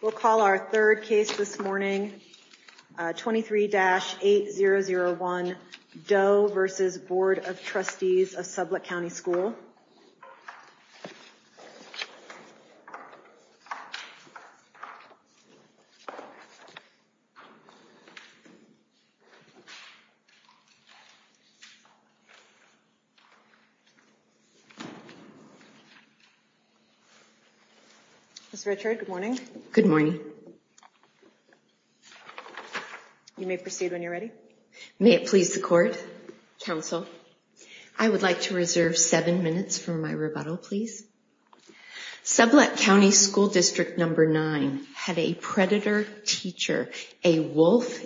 We'll call our third case this morning, 23-8001 Doe v. Board of Trustees of Sublette County School. Doe v. Board of Trustees of Sublette County School Ms. Richard, good morning. Good morning. You may proceed when you're ready. May it please the court, counsel, I would like to reserve seven minutes for my rebuttal, please. Sublette County School District Number Nine had a predator teacher, a wolf,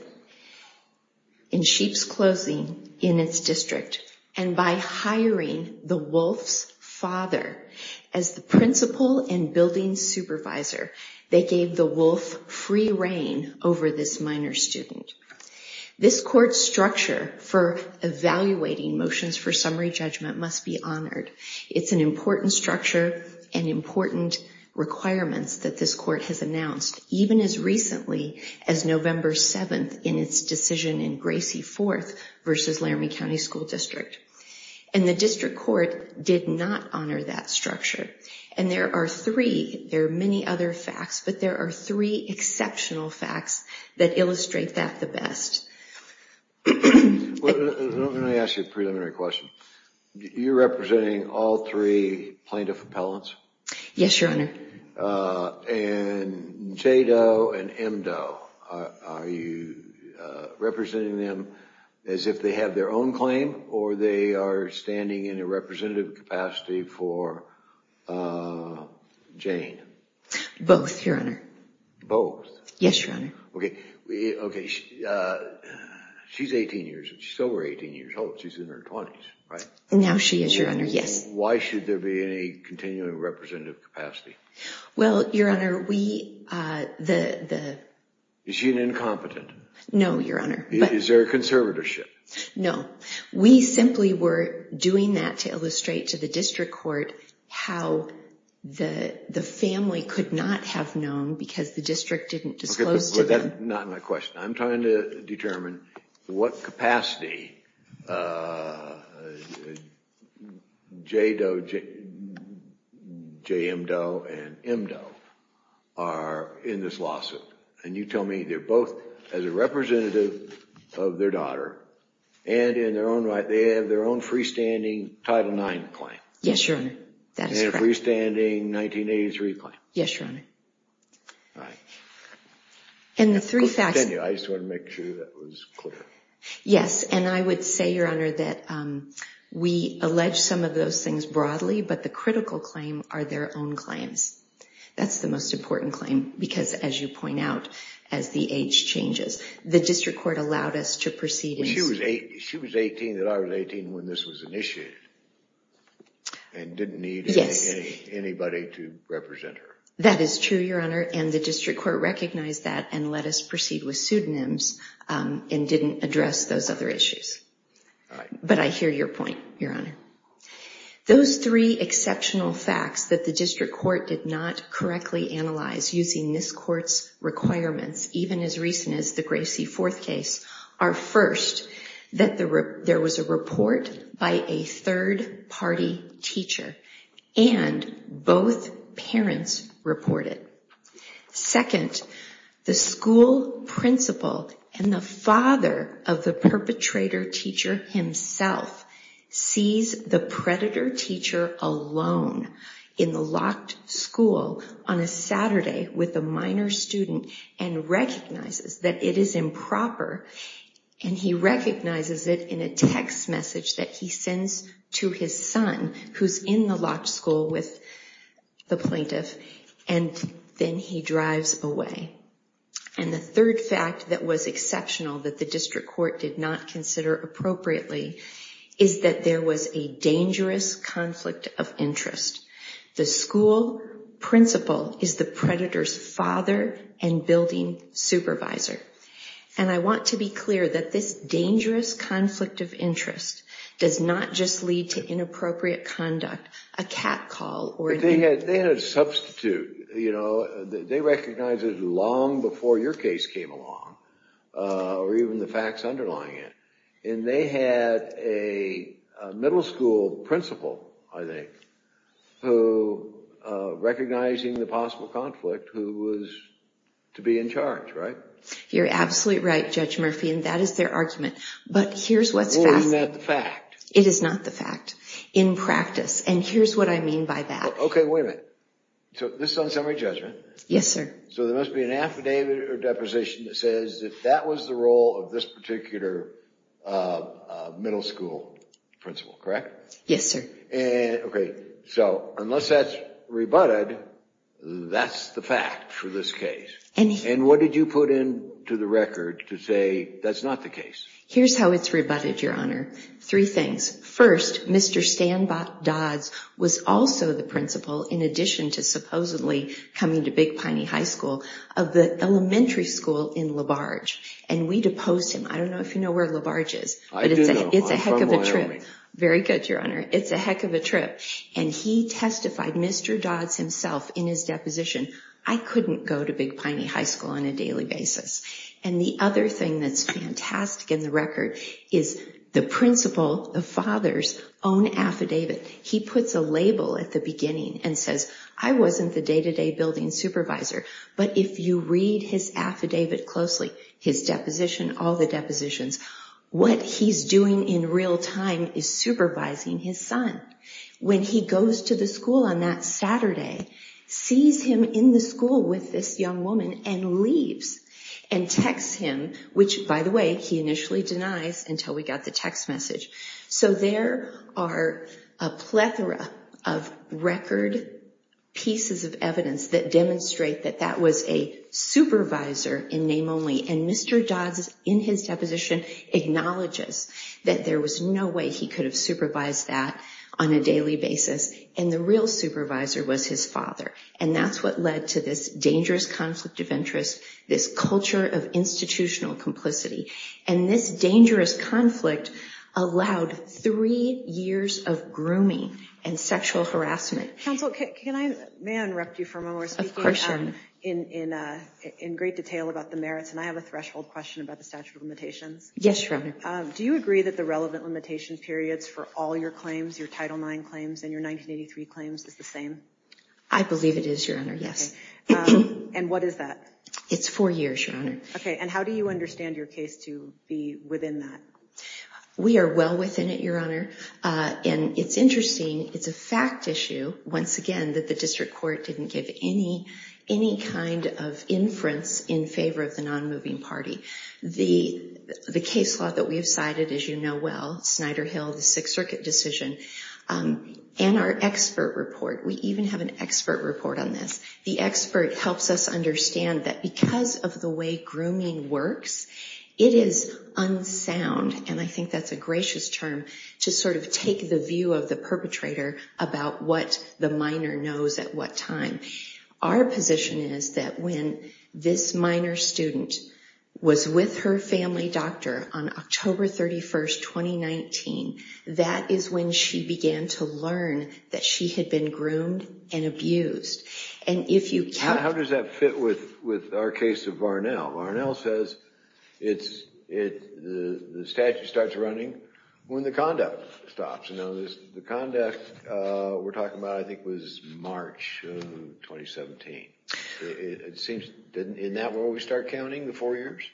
in sheep's clothing in its district. And by hiring the wolf's father as the principal and building supervisor, they gave the wolf free reign over this minor student. This court's structure for evaluating motions for summary judgment must be honored. It's an important structure and important requirements that this court has announced, even as recently as November 7th in its decision in Gracie 4th v. Laramie County School District. And the district court did not honor that structure. And there are three, there are many other facts, but there are three exceptional facts that illustrate that the best. Well, let me ask you a preliminary question. You're representing all three plaintiff appellants? Yes, Your Honor. And J. Doe and M. Doe, are you representing them as if they have their own claim or they are standing in a representative capacity for Jane? Both, Your Honor. Both? Yes, Your Honor. Okay, she's 18 years, she's still over 18 years old, she's in her 20s, right? Now she is, Your Honor, yes. Why should there be any continuing representative capacity? Well, Your Honor, we, the... Is she an incompetent? No, Your Honor. Is there a conservatorship? No, we simply were doing that to illustrate to the district court how the family could not have known because the district didn't disclose to them. Not my question. I'm trying to determine what capacity J. Doe, J. M. Doe and M. Doe are in this lawsuit. And you tell me they're both as a representative of their daughter and in their own right, they have their own freestanding Title IX claim. Yes, Your Honor, that is correct. And a freestanding 1983 claim. Yes, Your Honor. And the three facts... Continue, I just wanted to make sure that was clear. Yes, and I would say, Your Honor, that we allege some of those things broadly, but the critical claim are their own claims. That's the most important claim because as you point out, as the age changes, the district court allowed us to proceed... She was 18, that I was 18 when this was initiated and didn't need anybody to represent her. That is true, Your Honor. And the district court recognized that and let us proceed with pseudonyms and didn't address those other issues. But I hear your point, Your Honor. Those three exceptional facts that the district court did not correctly analyze using this court's requirements, even as recent as the Gracie Fourth case, are first, that there was a report by a third-party teacher and both parents reported. Second, the school principal and the father of the perpetrator teacher himself sees the predator teacher alone in the locked school on a Saturday with a minor student and recognizes that it is improper and he recognizes it in a text message that he sends to his son who's in the locked school with the plaintiff and then he drives away. And the third fact that was exceptional that the district court did not consider appropriately is that there was a dangerous conflict of interest. The school principal is the predator's father and building supervisor. And I want to be clear that this dangerous conflict of interest does not just lead to inappropriate conduct, a catcall, or- They had a substitute, you know, they recognized it long before your case came along or even the facts underlying it. And they had a middle school principal, I think, who, recognizing the possible conflict, who was to be in charge, right? You're absolutely right, Judge Murphy, and that is their argument. But here's what's fascinating- Well, isn't that the fact? It is not the fact, in practice. And here's what I mean by that. Okay, wait a minute. So this is on summary judgment. Yes, sir. So there must be an affidavit or deposition that says that that was the role of this particular middle school principal, correct? Yes, sir. And, okay, so unless that's rebutted, that's the fact for this case. And what did you put into the record to say that's not the case? Here's how it's rebutted, Your Honor. Three things. First, Mr. Stan Dodds was also the principal, in addition to supposedly coming to Big Piney High School, of the elementary school in LaBarge. And we deposed him. I don't know if you know where LaBarge is. I do know, I'm from Wyoming. Very good, Your Honor. It's a heck of a trip. And he testified, Mr. Dodds himself, in his deposition, I couldn't go to Big Piney High School on a daily basis. And the other thing that's fantastic in the record is the principal, the father's own affidavit. He puts a label at the beginning and says, I wasn't the day-to-day building supervisor, but if you read his affidavit closely, his deposition, all the depositions, what he's doing in real time is supervising his son. When he goes to the school on that Saturday, sees him in the school with this young woman, and leaves, and texts him, which, by the way, he initially denies until we got the text message. So there are a plethora of record pieces of evidence that demonstrate that that was a supervisor in name only. And Mr. Dodds, in his deposition, acknowledges that there was no way he could have supervised that on a daily basis. And the real supervisor was his father. And that's what led to this dangerous conflict of interest, this culture of institutional complicity. And this dangerous conflict allowed three years of grooming and sexual harassment. Council, can I, may I interrupt you for a moment? Of course, sure. In great detail about the merits, and I have a threshold question about the statute of limitations. Yes, your honor. Do you agree that the relevant limitation periods for all your claims, your Title IX claims, and your 1983 claims is the same? I believe it is, your honor, yes. And what is that? It's four years, your honor. Okay, and how do you understand your case to be within that? We are well within it, your honor. And it's interesting, it's a fact issue, once again, that the district court didn't give any kind of inference in favor of the non-moving party. The case law that we have cited, as you know well, Snyder Hill, the Sixth Circuit decision, and our expert report, we even have an expert report on this. The expert helps us understand that because of the way grooming works, it is unsound, and I think that's a gracious term, to sort of take the view of the perpetrator about what the minor knows at what time. Our position is that when this minor student was with her family doctor on October 31st, 2019, that is when she began to learn that she had been groomed and abused. And if you count- How does that fit with our case of Varnell? Varnell says the statute starts running when the conduct stops. The conduct we're talking about, I think, was March of 2017. It seems, in that world, we start counting the four years?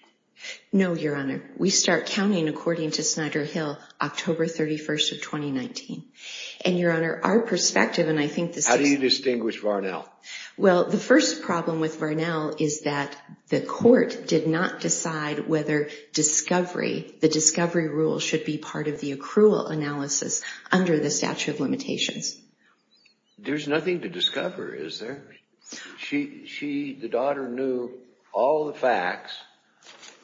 No, Your Honor. We start counting, according to Snyder Hill, October 31st of 2019. And, Your Honor, our perspective, and I think the Sixth- How do you distinguish Varnell? Well, the first problem with Varnell is that the court did not decide whether discovery, the discovery rule, should be part of the accrual analysis under the statute of limitations. There's nothing to discover, is there? She, the daughter, knew all the facts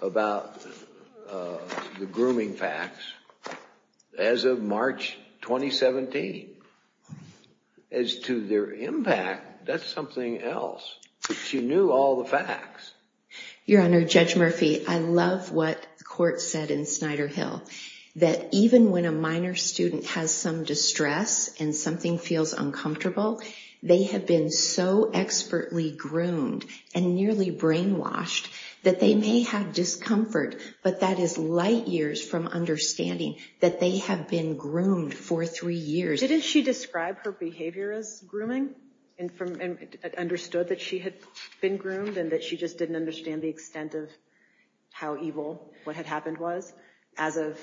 about the grooming facts as of March 2017. As to their impact, that's something else. She knew all the facts. Your Honor, Judge Murphy, I love what the court said in Snyder Hill, that even when a minor student has some distress and something feels uncomfortable, they have been so expertly groomed and nearly brainwashed that they may have discomfort, but that is light years from understanding that they have been groomed for three years. Didn't she describe her behavior as grooming and understood that she had been groomed and that she just didn't understand the extent of how evil what had happened was as of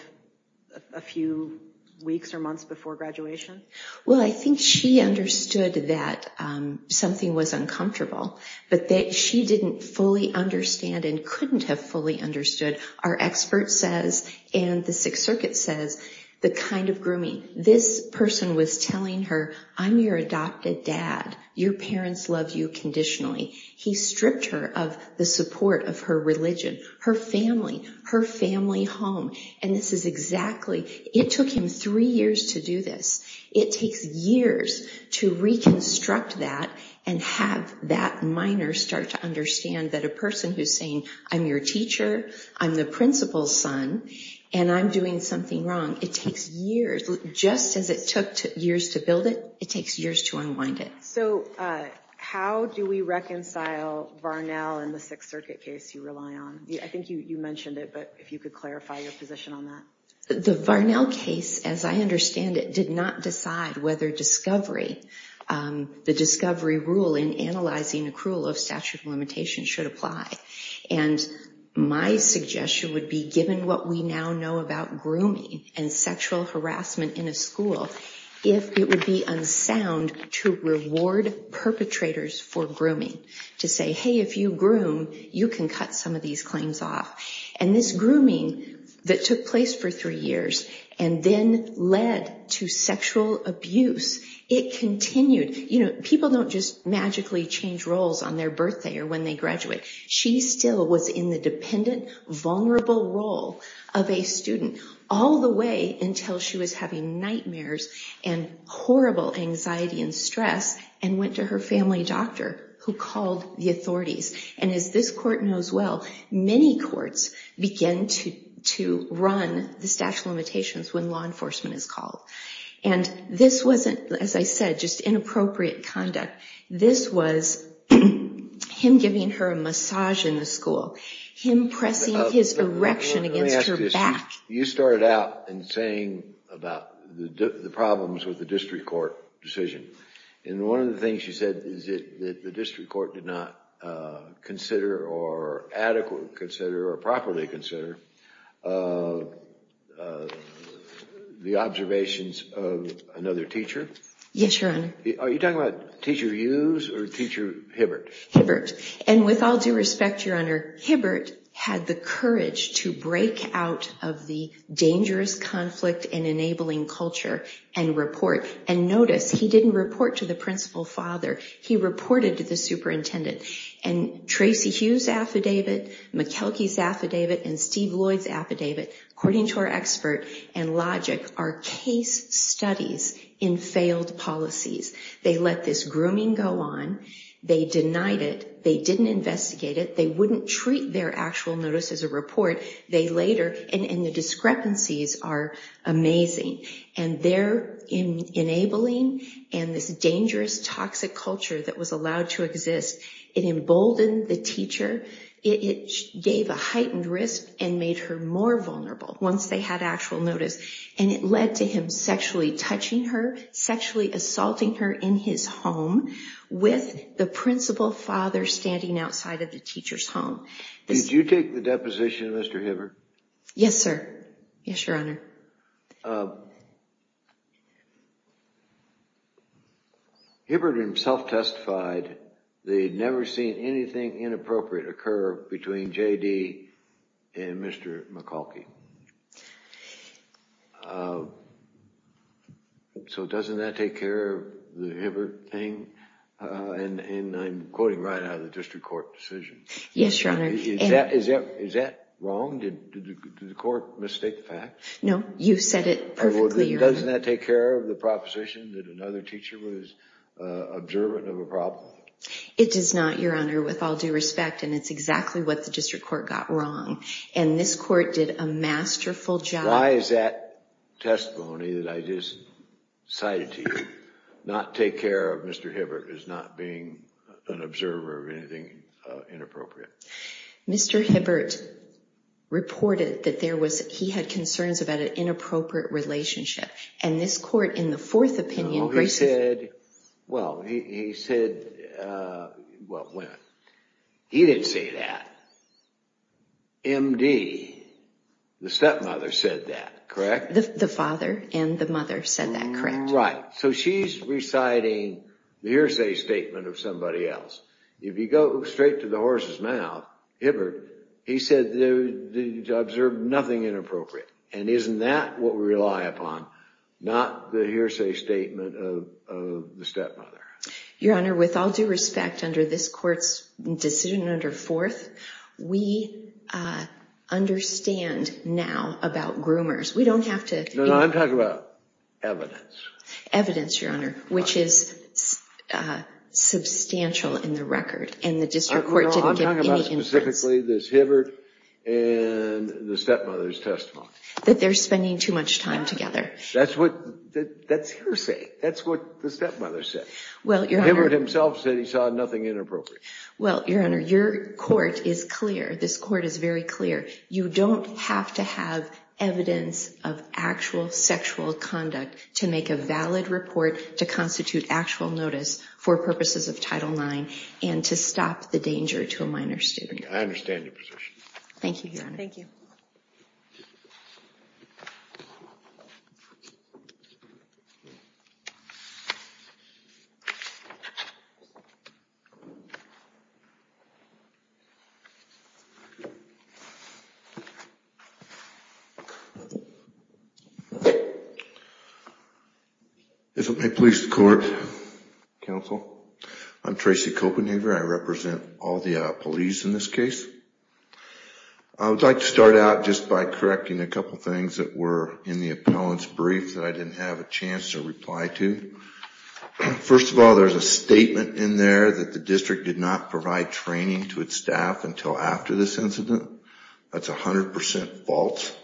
a few weeks or months before graduation? Well, I think she understood that something was uncomfortable, but that she didn't fully understand and couldn't have fully understood. Our expert says, and the Sixth Circuit says, the kind of grooming. This person was telling her, I'm your adopted dad. Your parents love you conditionally. He stripped her of the support of her religion, her family, her family home, and this is exactly, it took him three years to do this. It takes years to reconstruct that and have that minor start to understand that a person who's saying, I'm your teacher, I'm the principal's son, and I'm doing something wrong, it takes years. Just as it took years to build it, it takes years to unwind it. So how do we reconcile Varnell and the Sixth Circuit case you rely on? I think you mentioned it, but if you could clarify your position on that. The Varnell case, as I understand it, did not decide whether the discovery rule in analyzing accrual of statute of limitations should apply. And my suggestion would be, given what we now know about grooming and sexual harassment in a school, if it would be unsound to reward perpetrators for grooming, to say, hey, if you groom, you can cut some of these claims off. And this grooming that took place for three years and then led to sexual abuse, it continued. People don't just magically change roles on their birthday or when they graduate. She still was in the dependent, vulnerable role of a student all the way until she was having nightmares and horrible anxiety and stress and went to her family doctor who called the authorities. And as this court knows well, many courts begin to run the statute of limitations when law enforcement is called. And this wasn't, as I said, just inappropriate conduct. This was him giving her a massage in the school, him pressing his erection against her back. You started out in saying about the problems with the district court decision. And one of the things you said is that the district court did not consider or adequately consider or properly consider the observations of another teacher. Yes, Your Honor. Are you talking about teacher Hughes or teacher Hibbert? Hibbert. And with all due respect, Your Honor, Hibbert had the courage to break out of the dangerous conflict and enabling culture and report. And notice, he didn't report to the principal father. He reported to the superintendent. And Tracy Hughes' affidavit, McKelkey's affidavit, and Steve Lloyd's affidavit, according to our expert and logic, are case studies in failed policies. They let this grooming go on. They denied it. They didn't investigate it. They wouldn't treat their actual notice as a report. They later, and the discrepancies are amazing. And their enabling and this dangerous, toxic culture that was allowed to exist, it emboldened the teacher. It gave a heightened risk and made her more vulnerable once they had actual notice. And it led to him sexually touching her, sexually assaulting her in his home with the principal father standing outside of the teacher's home. Did you take the deposition, Mr. Hibbert? Yes, sir. Yes, Your Honor. Well, Hibbert himself testified that he'd never seen anything inappropriate occur between JD and Mr. McKelkey. So doesn't that take care of the Hibbert thing? And I'm quoting right out of the district court decision. Yes, Your Honor. Is that wrong? Did the court mistake the facts? No, you said it perfectly. Doesn't that take care of the proposition that another teacher was observant of a problem? It does not, Your Honor, with all due respect. And it's exactly what the district court got wrong. And this court did a masterful job. Why is that testimony that I just cited to you not take care of Mr. Hibbert as not being an observer of anything inappropriate? Mr. Hibbert reported that he had concerns about an inappropriate relationship. And this court, in the fourth opinion, graciously- Well, he said, well, he didn't say that. MD, the stepmother, said that, correct? The father and the mother said that, correct? Right. So she's reciting the hearsay statement of somebody else. If you go straight to the horse's mouth, Hibbert, he said they observed nothing inappropriate. And isn't that what we rely upon, not the hearsay statement of the stepmother? Your Honor, with all due respect, under this court's decision under fourth, we understand now about groomers. We don't have to- No, no, I'm talking about evidence. Evidence, Your Honor, which is substantial in the record. And the district court didn't give any inference. I'm talking about specifically this Hibbert and the stepmother's That they're spending too much time together. That's what- that's hearsay. That's what the stepmother said. Well, Your Honor- Hibbert himself said he saw nothing inappropriate. Well, Your Honor, your court is clear. This court is very clear. You don't have to have evidence of actual sexual conduct to make a valid report to constitute actual notice for purposes of Title IX and to stop the danger to a minor student. I understand your position. Thank you, Your Honor. Thank you. If it may please the court, counsel, I'm Tracy Copenhaver. I represent all the police in this case. I would like to start out just by correcting a couple of things that were in the appellant's brief that I didn't have a chance to reply to. First of all, there's a statement in there that the district did not provide training to its staff until after this incident. That's 100% false.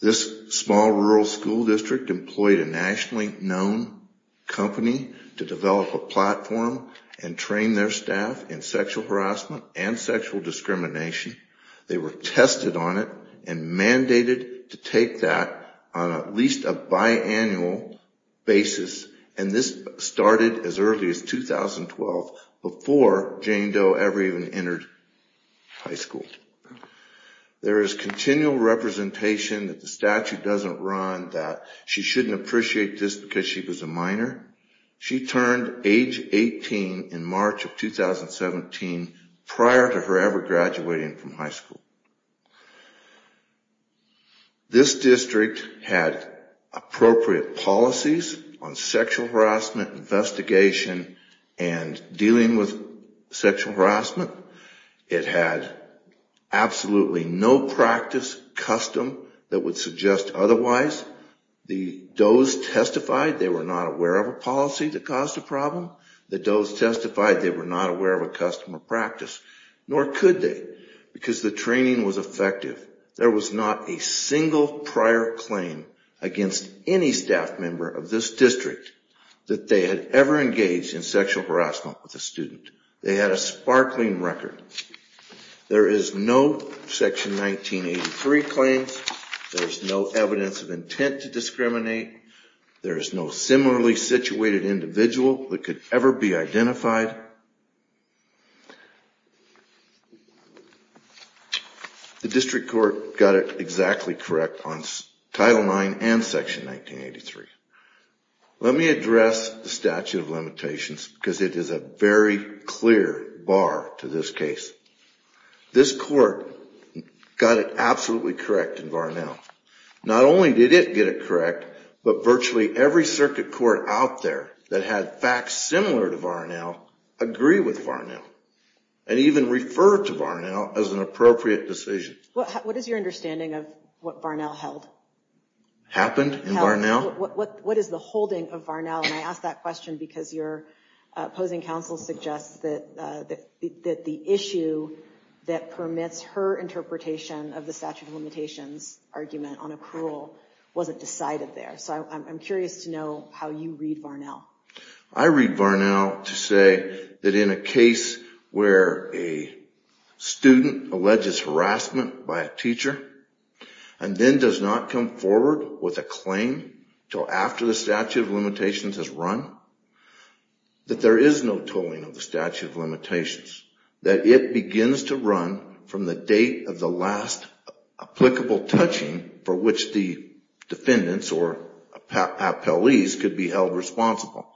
This small rural school district employed a nationally known company to develop a platform and train their staff in sexual harassment and sexual discrimination. They were tested on it and mandated to take that on at least a biannual basis. And this started as early as 2012 before Jane Doe ever even entered high school. There is continual representation that the statute doesn't run that she shouldn't appreciate this because she was a minor. She turned age 18 in March of 2017 prior to her ever graduating from high school. This district had appropriate policies on sexual harassment investigation and dealing with sexual harassment. It had absolutely no practice custom that would suggest otherwise. The Does testified they were not aware of a policy that caused the problem. The Does testified they were not aware of a customer practice, nor could they because the training was effective. There was not a single prior claim against any staff member of this district that they had ever engaged in sexual harassment with a student. They had a sparkling record. There is no section 1983 claims. There's no evidence of intent to discriminate. There is no similarly situated individual that could ever be identified. The district court got it exactly correct on Title IX and Section 1983. Let me address the statute of limitations because it is a very clear bar to this case. This court got it absolutely correct in Varnell. Not only did it get it correct, but virtually every circuit court out there that had facts similar to Varnell agree with Varnell and even refer to Varnell as an appropriate decision. What is your understanding of what Varnell held? Happened in Varnell? What is the holding of Varnell? And I ask that question because your opposing counsel suggests that the issue that permits her interpretation of the statute of limitations argument on accrual wasn't decided there. So I'm curious to know how you read Varnell. I read Varnell to say that in a case where a student alleges harassment by a teacher and then does not come forward with a claim till after the statute of limitations has run, that there is no tolling of the statute of limitations. That it begins to run from the date of the last applicable touching for which the defendants or appellees could be held responsible.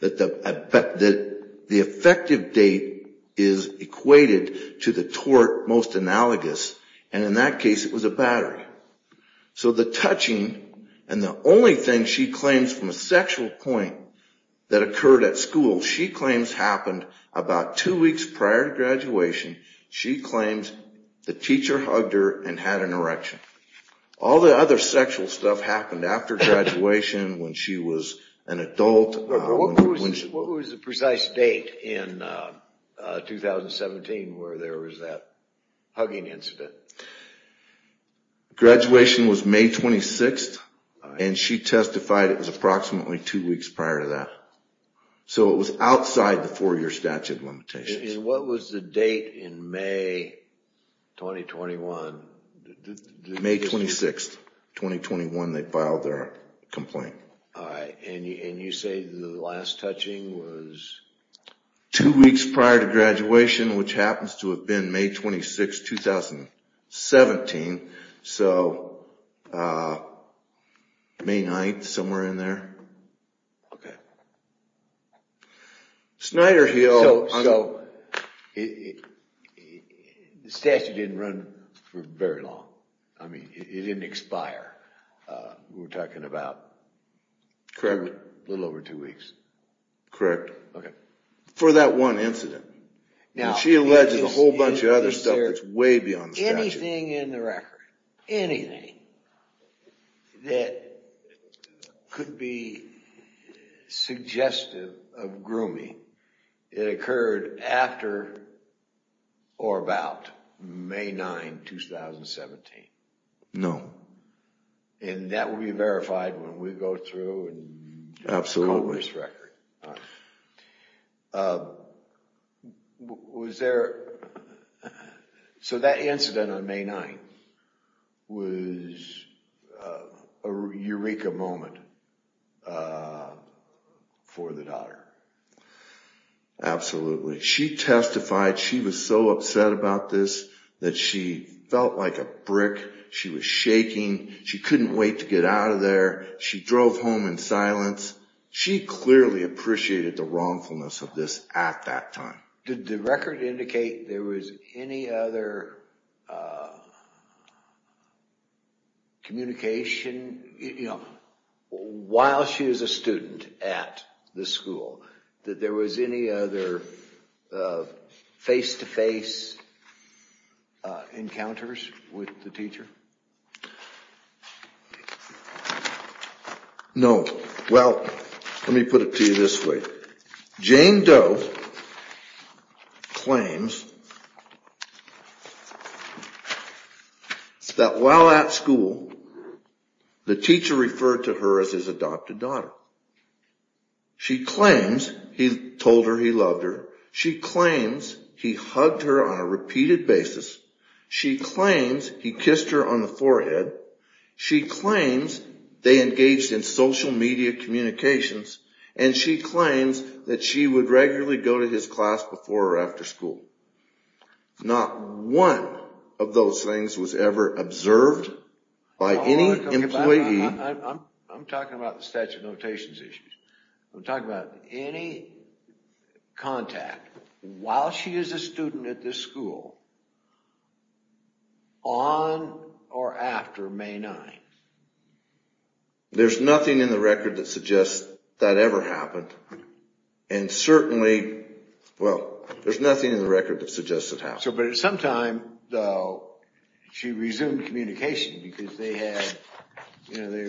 That the effective date is equated to the tort most analogous. And in that case, it was a battery. So the touching and the only thing she claims from a sexual point that occurred at school, she claims happened about two weeks prior to graduation. She claims the teacher hugged her and had an erection. All the other sexual stuff happened after graduation when she was an adult. What was the precise date in 2017 where there was that hugging incident? Graduation was May 26th. And she testified it was approximately two weeks prior to that. So it was outside the four-year statute of limitations. And what was the date in May 2021? May 26th, 2021, they filed their complaint. And you say the last touching was? Two weeks prior to graduation, which 17, so May 9th, somewhere in there. Snyder Hill, the statute didn't run for very long. I mean, it didn't expire. We're talking about a little over two weeks. Correct. For that one incident. She alleges a whole bunch of other stuff that's way beyond the statute. Anything in the record, anything that could be suggestive of grooming, it occurred after or about May 9, 2017. No. And that will be verified when we go through and call this record. All right. Was there, so that incident on May 9th was a eureka moment for the daughter? Absolutely. She testified she was so upset about this that she felt like a brick. She was shaking. She drove home in silence. She clearly appreciated the wrongfulness of this at that time. Did the record indicate there was any other communication while she was a student at the school, that there was any other face-to-face encounters with the teacher? No. Well, let me put it to you this way. Jane Doe claims that while at school, the teacher referred to her as his adopted daughter. She claims he told her he loved her. She claims he hugged her on a repeated basis. She claims he kissed her on the forehead. She claims they engaged in social media communications. And she claims that she would regularly go to his class before or after school. Not one of those things was ever observed by any employee. I'm talking about the statute of notations issues. I'm talking about any contact while she is a student at this school on or after May 9. There's nothing in the record that suggests that ever happened. And certainly, well, there's nothing in the record that suggests it happened. But at some time, though, she resumed communication because they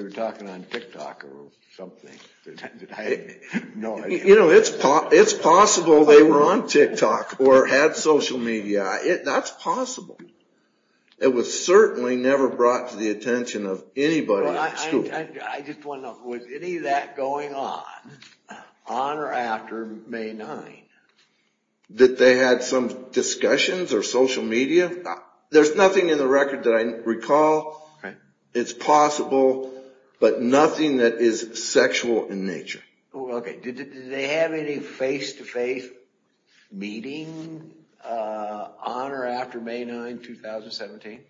were talking on TikTok or something. You know, it's possible they were on TikTok or had social media. That's possible. It was certainly never brought to the attention of anybody at school. I just want to know, was any of that going on, on or after May 9? That they had some discussions or social media? There's nothing in the record that I recall. It's possible, but nothing that is sexual in nature. OK, did they have any face-to-face meeting on or after May 9, 2017?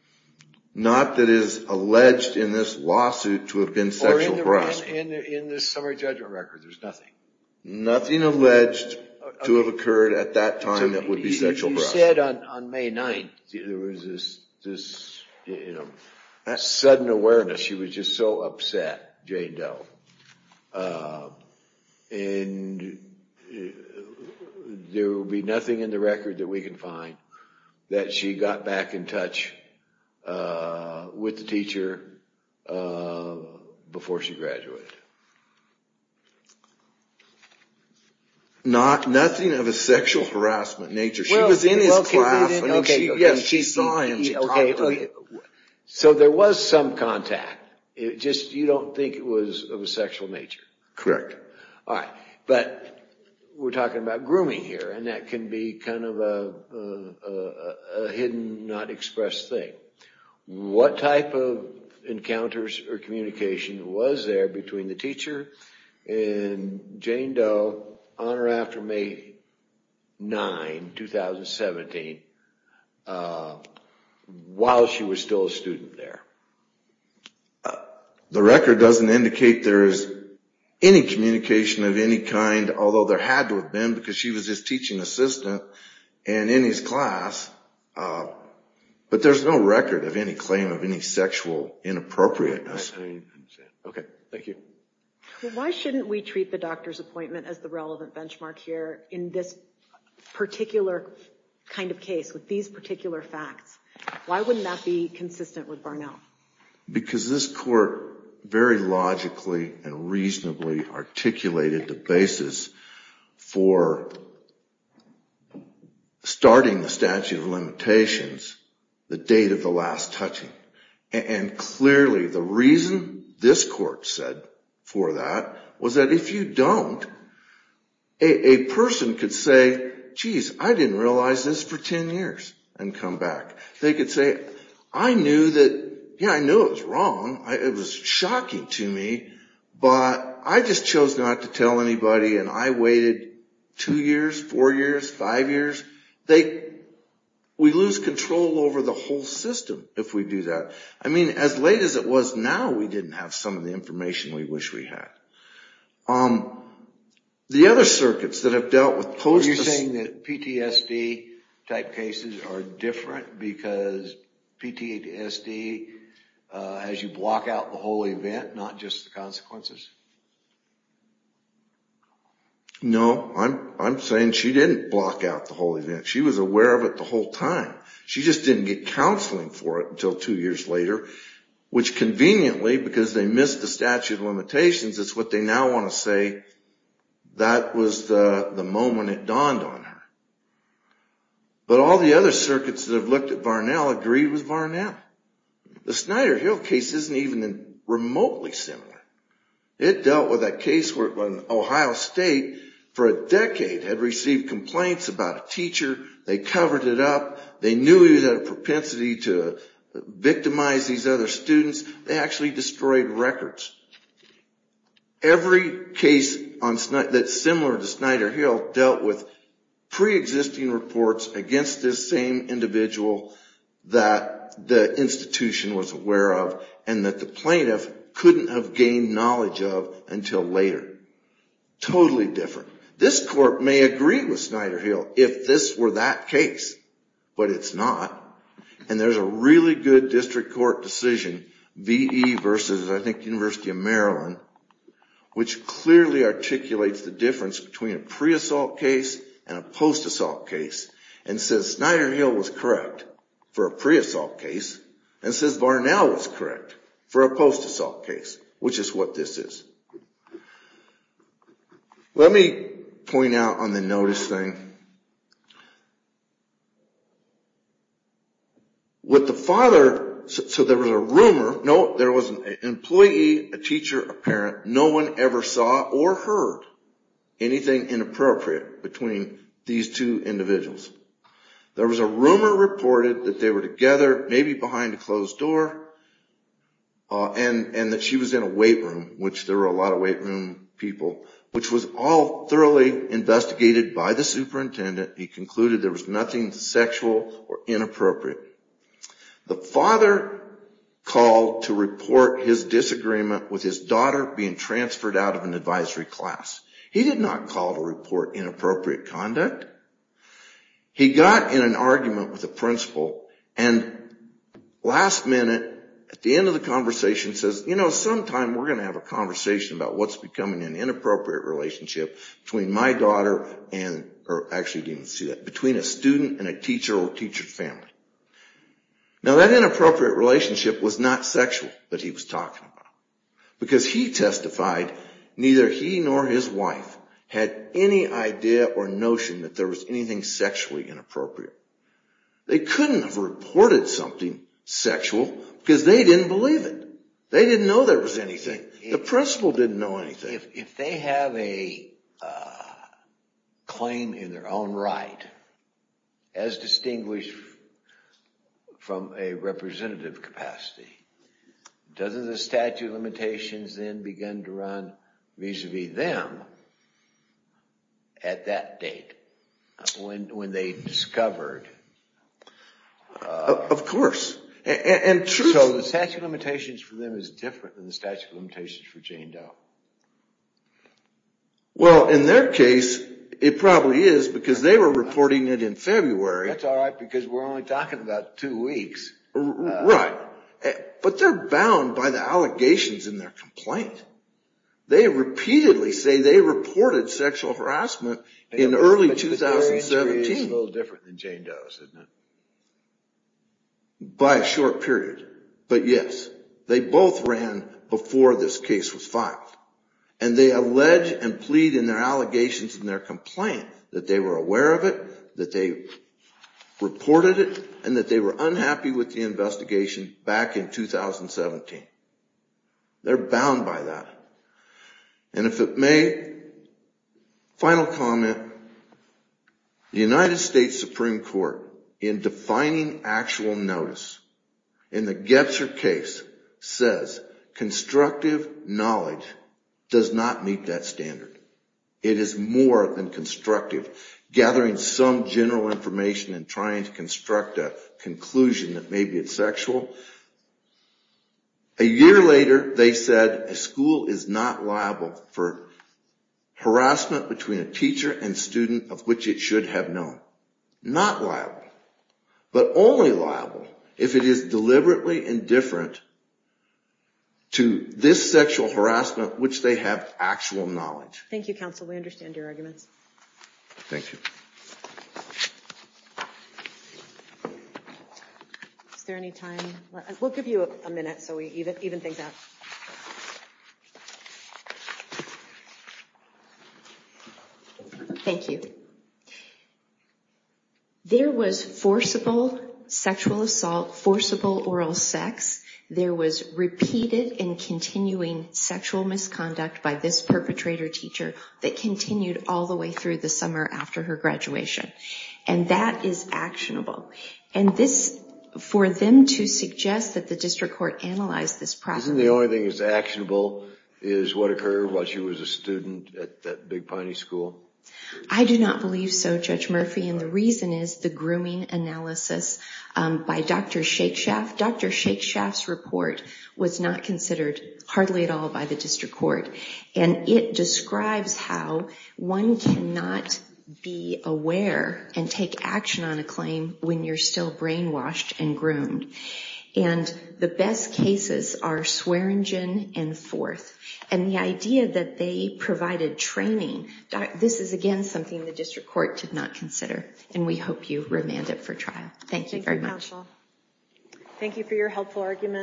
Not that is alleged in this lawsuit to have been sexual abuse. In the summary judgment record, there's nothing. Nothing alleged to have occurred at that time that would be sexual abuse. You said on May 9, there was this sudden awareness. She was just so upset, Jane Doe. And there will be nothing in the record that we can find that she got back in touch with the teacher before she graduated. Nothing of a sexual harassment nature. She was in his class. Yes, she saw him. OK, so there was some contact. You don't think it was of a sexual nature? Correct. All right, but we're talking about grooming here. And that can be kind of a hidden, not expressed thing. What type of encounters or communication was there between the teacher and Jane Doe on or after May 9, 2017, while she was still a student there? The record doesn't indicate there is any communication of any kind, although there had to have been because she was his teaching assistant and in his class. But there's no record of any claim of any sexual inappropriateness. OK, thank you. Why shouldn't we treat the doctor's appointment as the relevant benchmark here in this particular kind of case with these particular facts? Why wouldn't that be consistent with Barnell? Because this court very logically and reasonably articulated the basis for starting the statute of limitations, the date of the last touching. And clearly, the reason this court said for that was that if you don't, a person could say, jeez, I didn't realize this for 10 years and come back. They could say, I knew that, yeah, I knew it was wrong. It was shocking to me, but I just chose not to tell anybody and I waited two years, four years, five years. We lose control over the whole system if we do that. I mean, as late as it was now, we didn't have some of the information we wish we had. The other circuits that have dealt with post-acid- Are you saying that PTSD type cases are different because PTSD has you block out the whole event, not just the consequences? No, I'm saying she didn't block out the whole event. She was aware of it the whole time. She just didn't get counseling for it until two years later, which conveniently, because they missed the statute of limitations, it's what they now want to say, that was the moment it dawned on her. But all the other circuits that have looked at Varnell agreed with Varnell. The Snyder-Hill case isn't even remotely similar. It dealt with a case where Ohio State, for a decade, had received complaints about a teacher. They covered it up. They knew he had a propensity to victimize these other students. They actually destroyed records. Every case that's similar to Snyder-Hill dealt with pre-existing reports against this same individual that the institution was aware of and that the plaintiff couldn't have gained knowledge of until later. Totally different. This court may agree with Snyder-Hill if this were that case, but it's not. And there's a really good district court decision, VE versus, I think, University of Maryland, which clearly articulates the difference between a pre-assault case and a post-assault case and says Snyder-Hill was correct for a pre-assault case and says Varnell was correct for a post-assault case, which is what this is. Let me point out on the notice thing. With the father, so there was a rumor. No, there was an employee, a teacher, a parent. No one ever saw or heard anything inappropriate between these two individuals. There was a rumor reported that they were together, maybe behind a closed door, and that she was in a weight room, which there were a lot of weight room people, which was all thoroughly investigated by the superintendent. He concluded there was nothing sexual or inappropriate. The father called to report his disagreement with his daughter being transferred out of an advisory class. He did not call to report inappropriate conduct. He got in an argument with the principal, and last minute, at the end of the conversation, says, you know, sometime we're going to have a conversation about what's becoming an inappropriate relationship between my daughter and, or actually didn't see that, between a student and a teacher or teacher's family. Now, that inappropriate relationship was not sexual that he was talking about, because he testified neither he nor his wife had any idea or notion that there was anything sexually inappropriate. They couldn't have reported something sexual, because they didn't believe it. They didn't know there was anything. The principal didn't know anything. If they have a claim in their own right, as distinguished from a representative capacity, doesn't the statute of limitations then begin to run vis-a-vis them at that date, when they discovered? Of course. And truthfully, the statute of limitations for them is different than the statute of limitations for Jane Doe. Well, in their case, it probably is, because they were reporting it in February. That's all right, because we're only talking about two weeks. Right. But they're bound by the allegations in their complaint. They repeatedly say they reported sexual harassment in early 2017. But their history is a little different than Jane Doe's, isn't it? By a short period. But yes, they both ran before this case was filed. And they allege and plead in their allegations in their complaint that they were aware of it, that they reported it, and that they were unhappy with the investigation back in 2017. They're bound by that. And if it may, final comment, the United States Supreme Court, in defining actual notice, in the Gebser case, says constructive knowledge does not meet that standard. It is more than constructive. Gathering some general information and trying to construct a conclusion that maybe it's sexual. A year later, they said, a school is not liable for harassment between a teacher and student of which it should have known. Not liable. But only liable if it is deliberately indifferent to this sexual harassment which they have actual knowledge. Thank you, counsel. We understand your arguments. Thank you. Is there any time? We'll give you a minute so we even things out. Thank you. There was forcible sexual assault, forcible oral sex. There was repeated and continuing sexual misconduct by this perpetrator teacher that continued all the way through the summer after her graduation. And that is actionable. And this, for them to suggest that the district court analyzed this property. Isn't the only way to do it? The only thing that's actionable is what occurred while she was a student at Big Piney School? I do not believe so, Judge Murphy. And the reason is the grooming analysis by Dr. Shakespeare. Dr. Shakespeare's report was not considered hardly at all by the district court. And it describes how one cannot be aware and take action on a claim when you're still brainwashed and groomed. And the best cases are Swearingen and Forth. And the idea that they provided training, this is again something the district court did not consider. And we hope you remand it for trial. Thank you very much. Thank you for your helpful argument.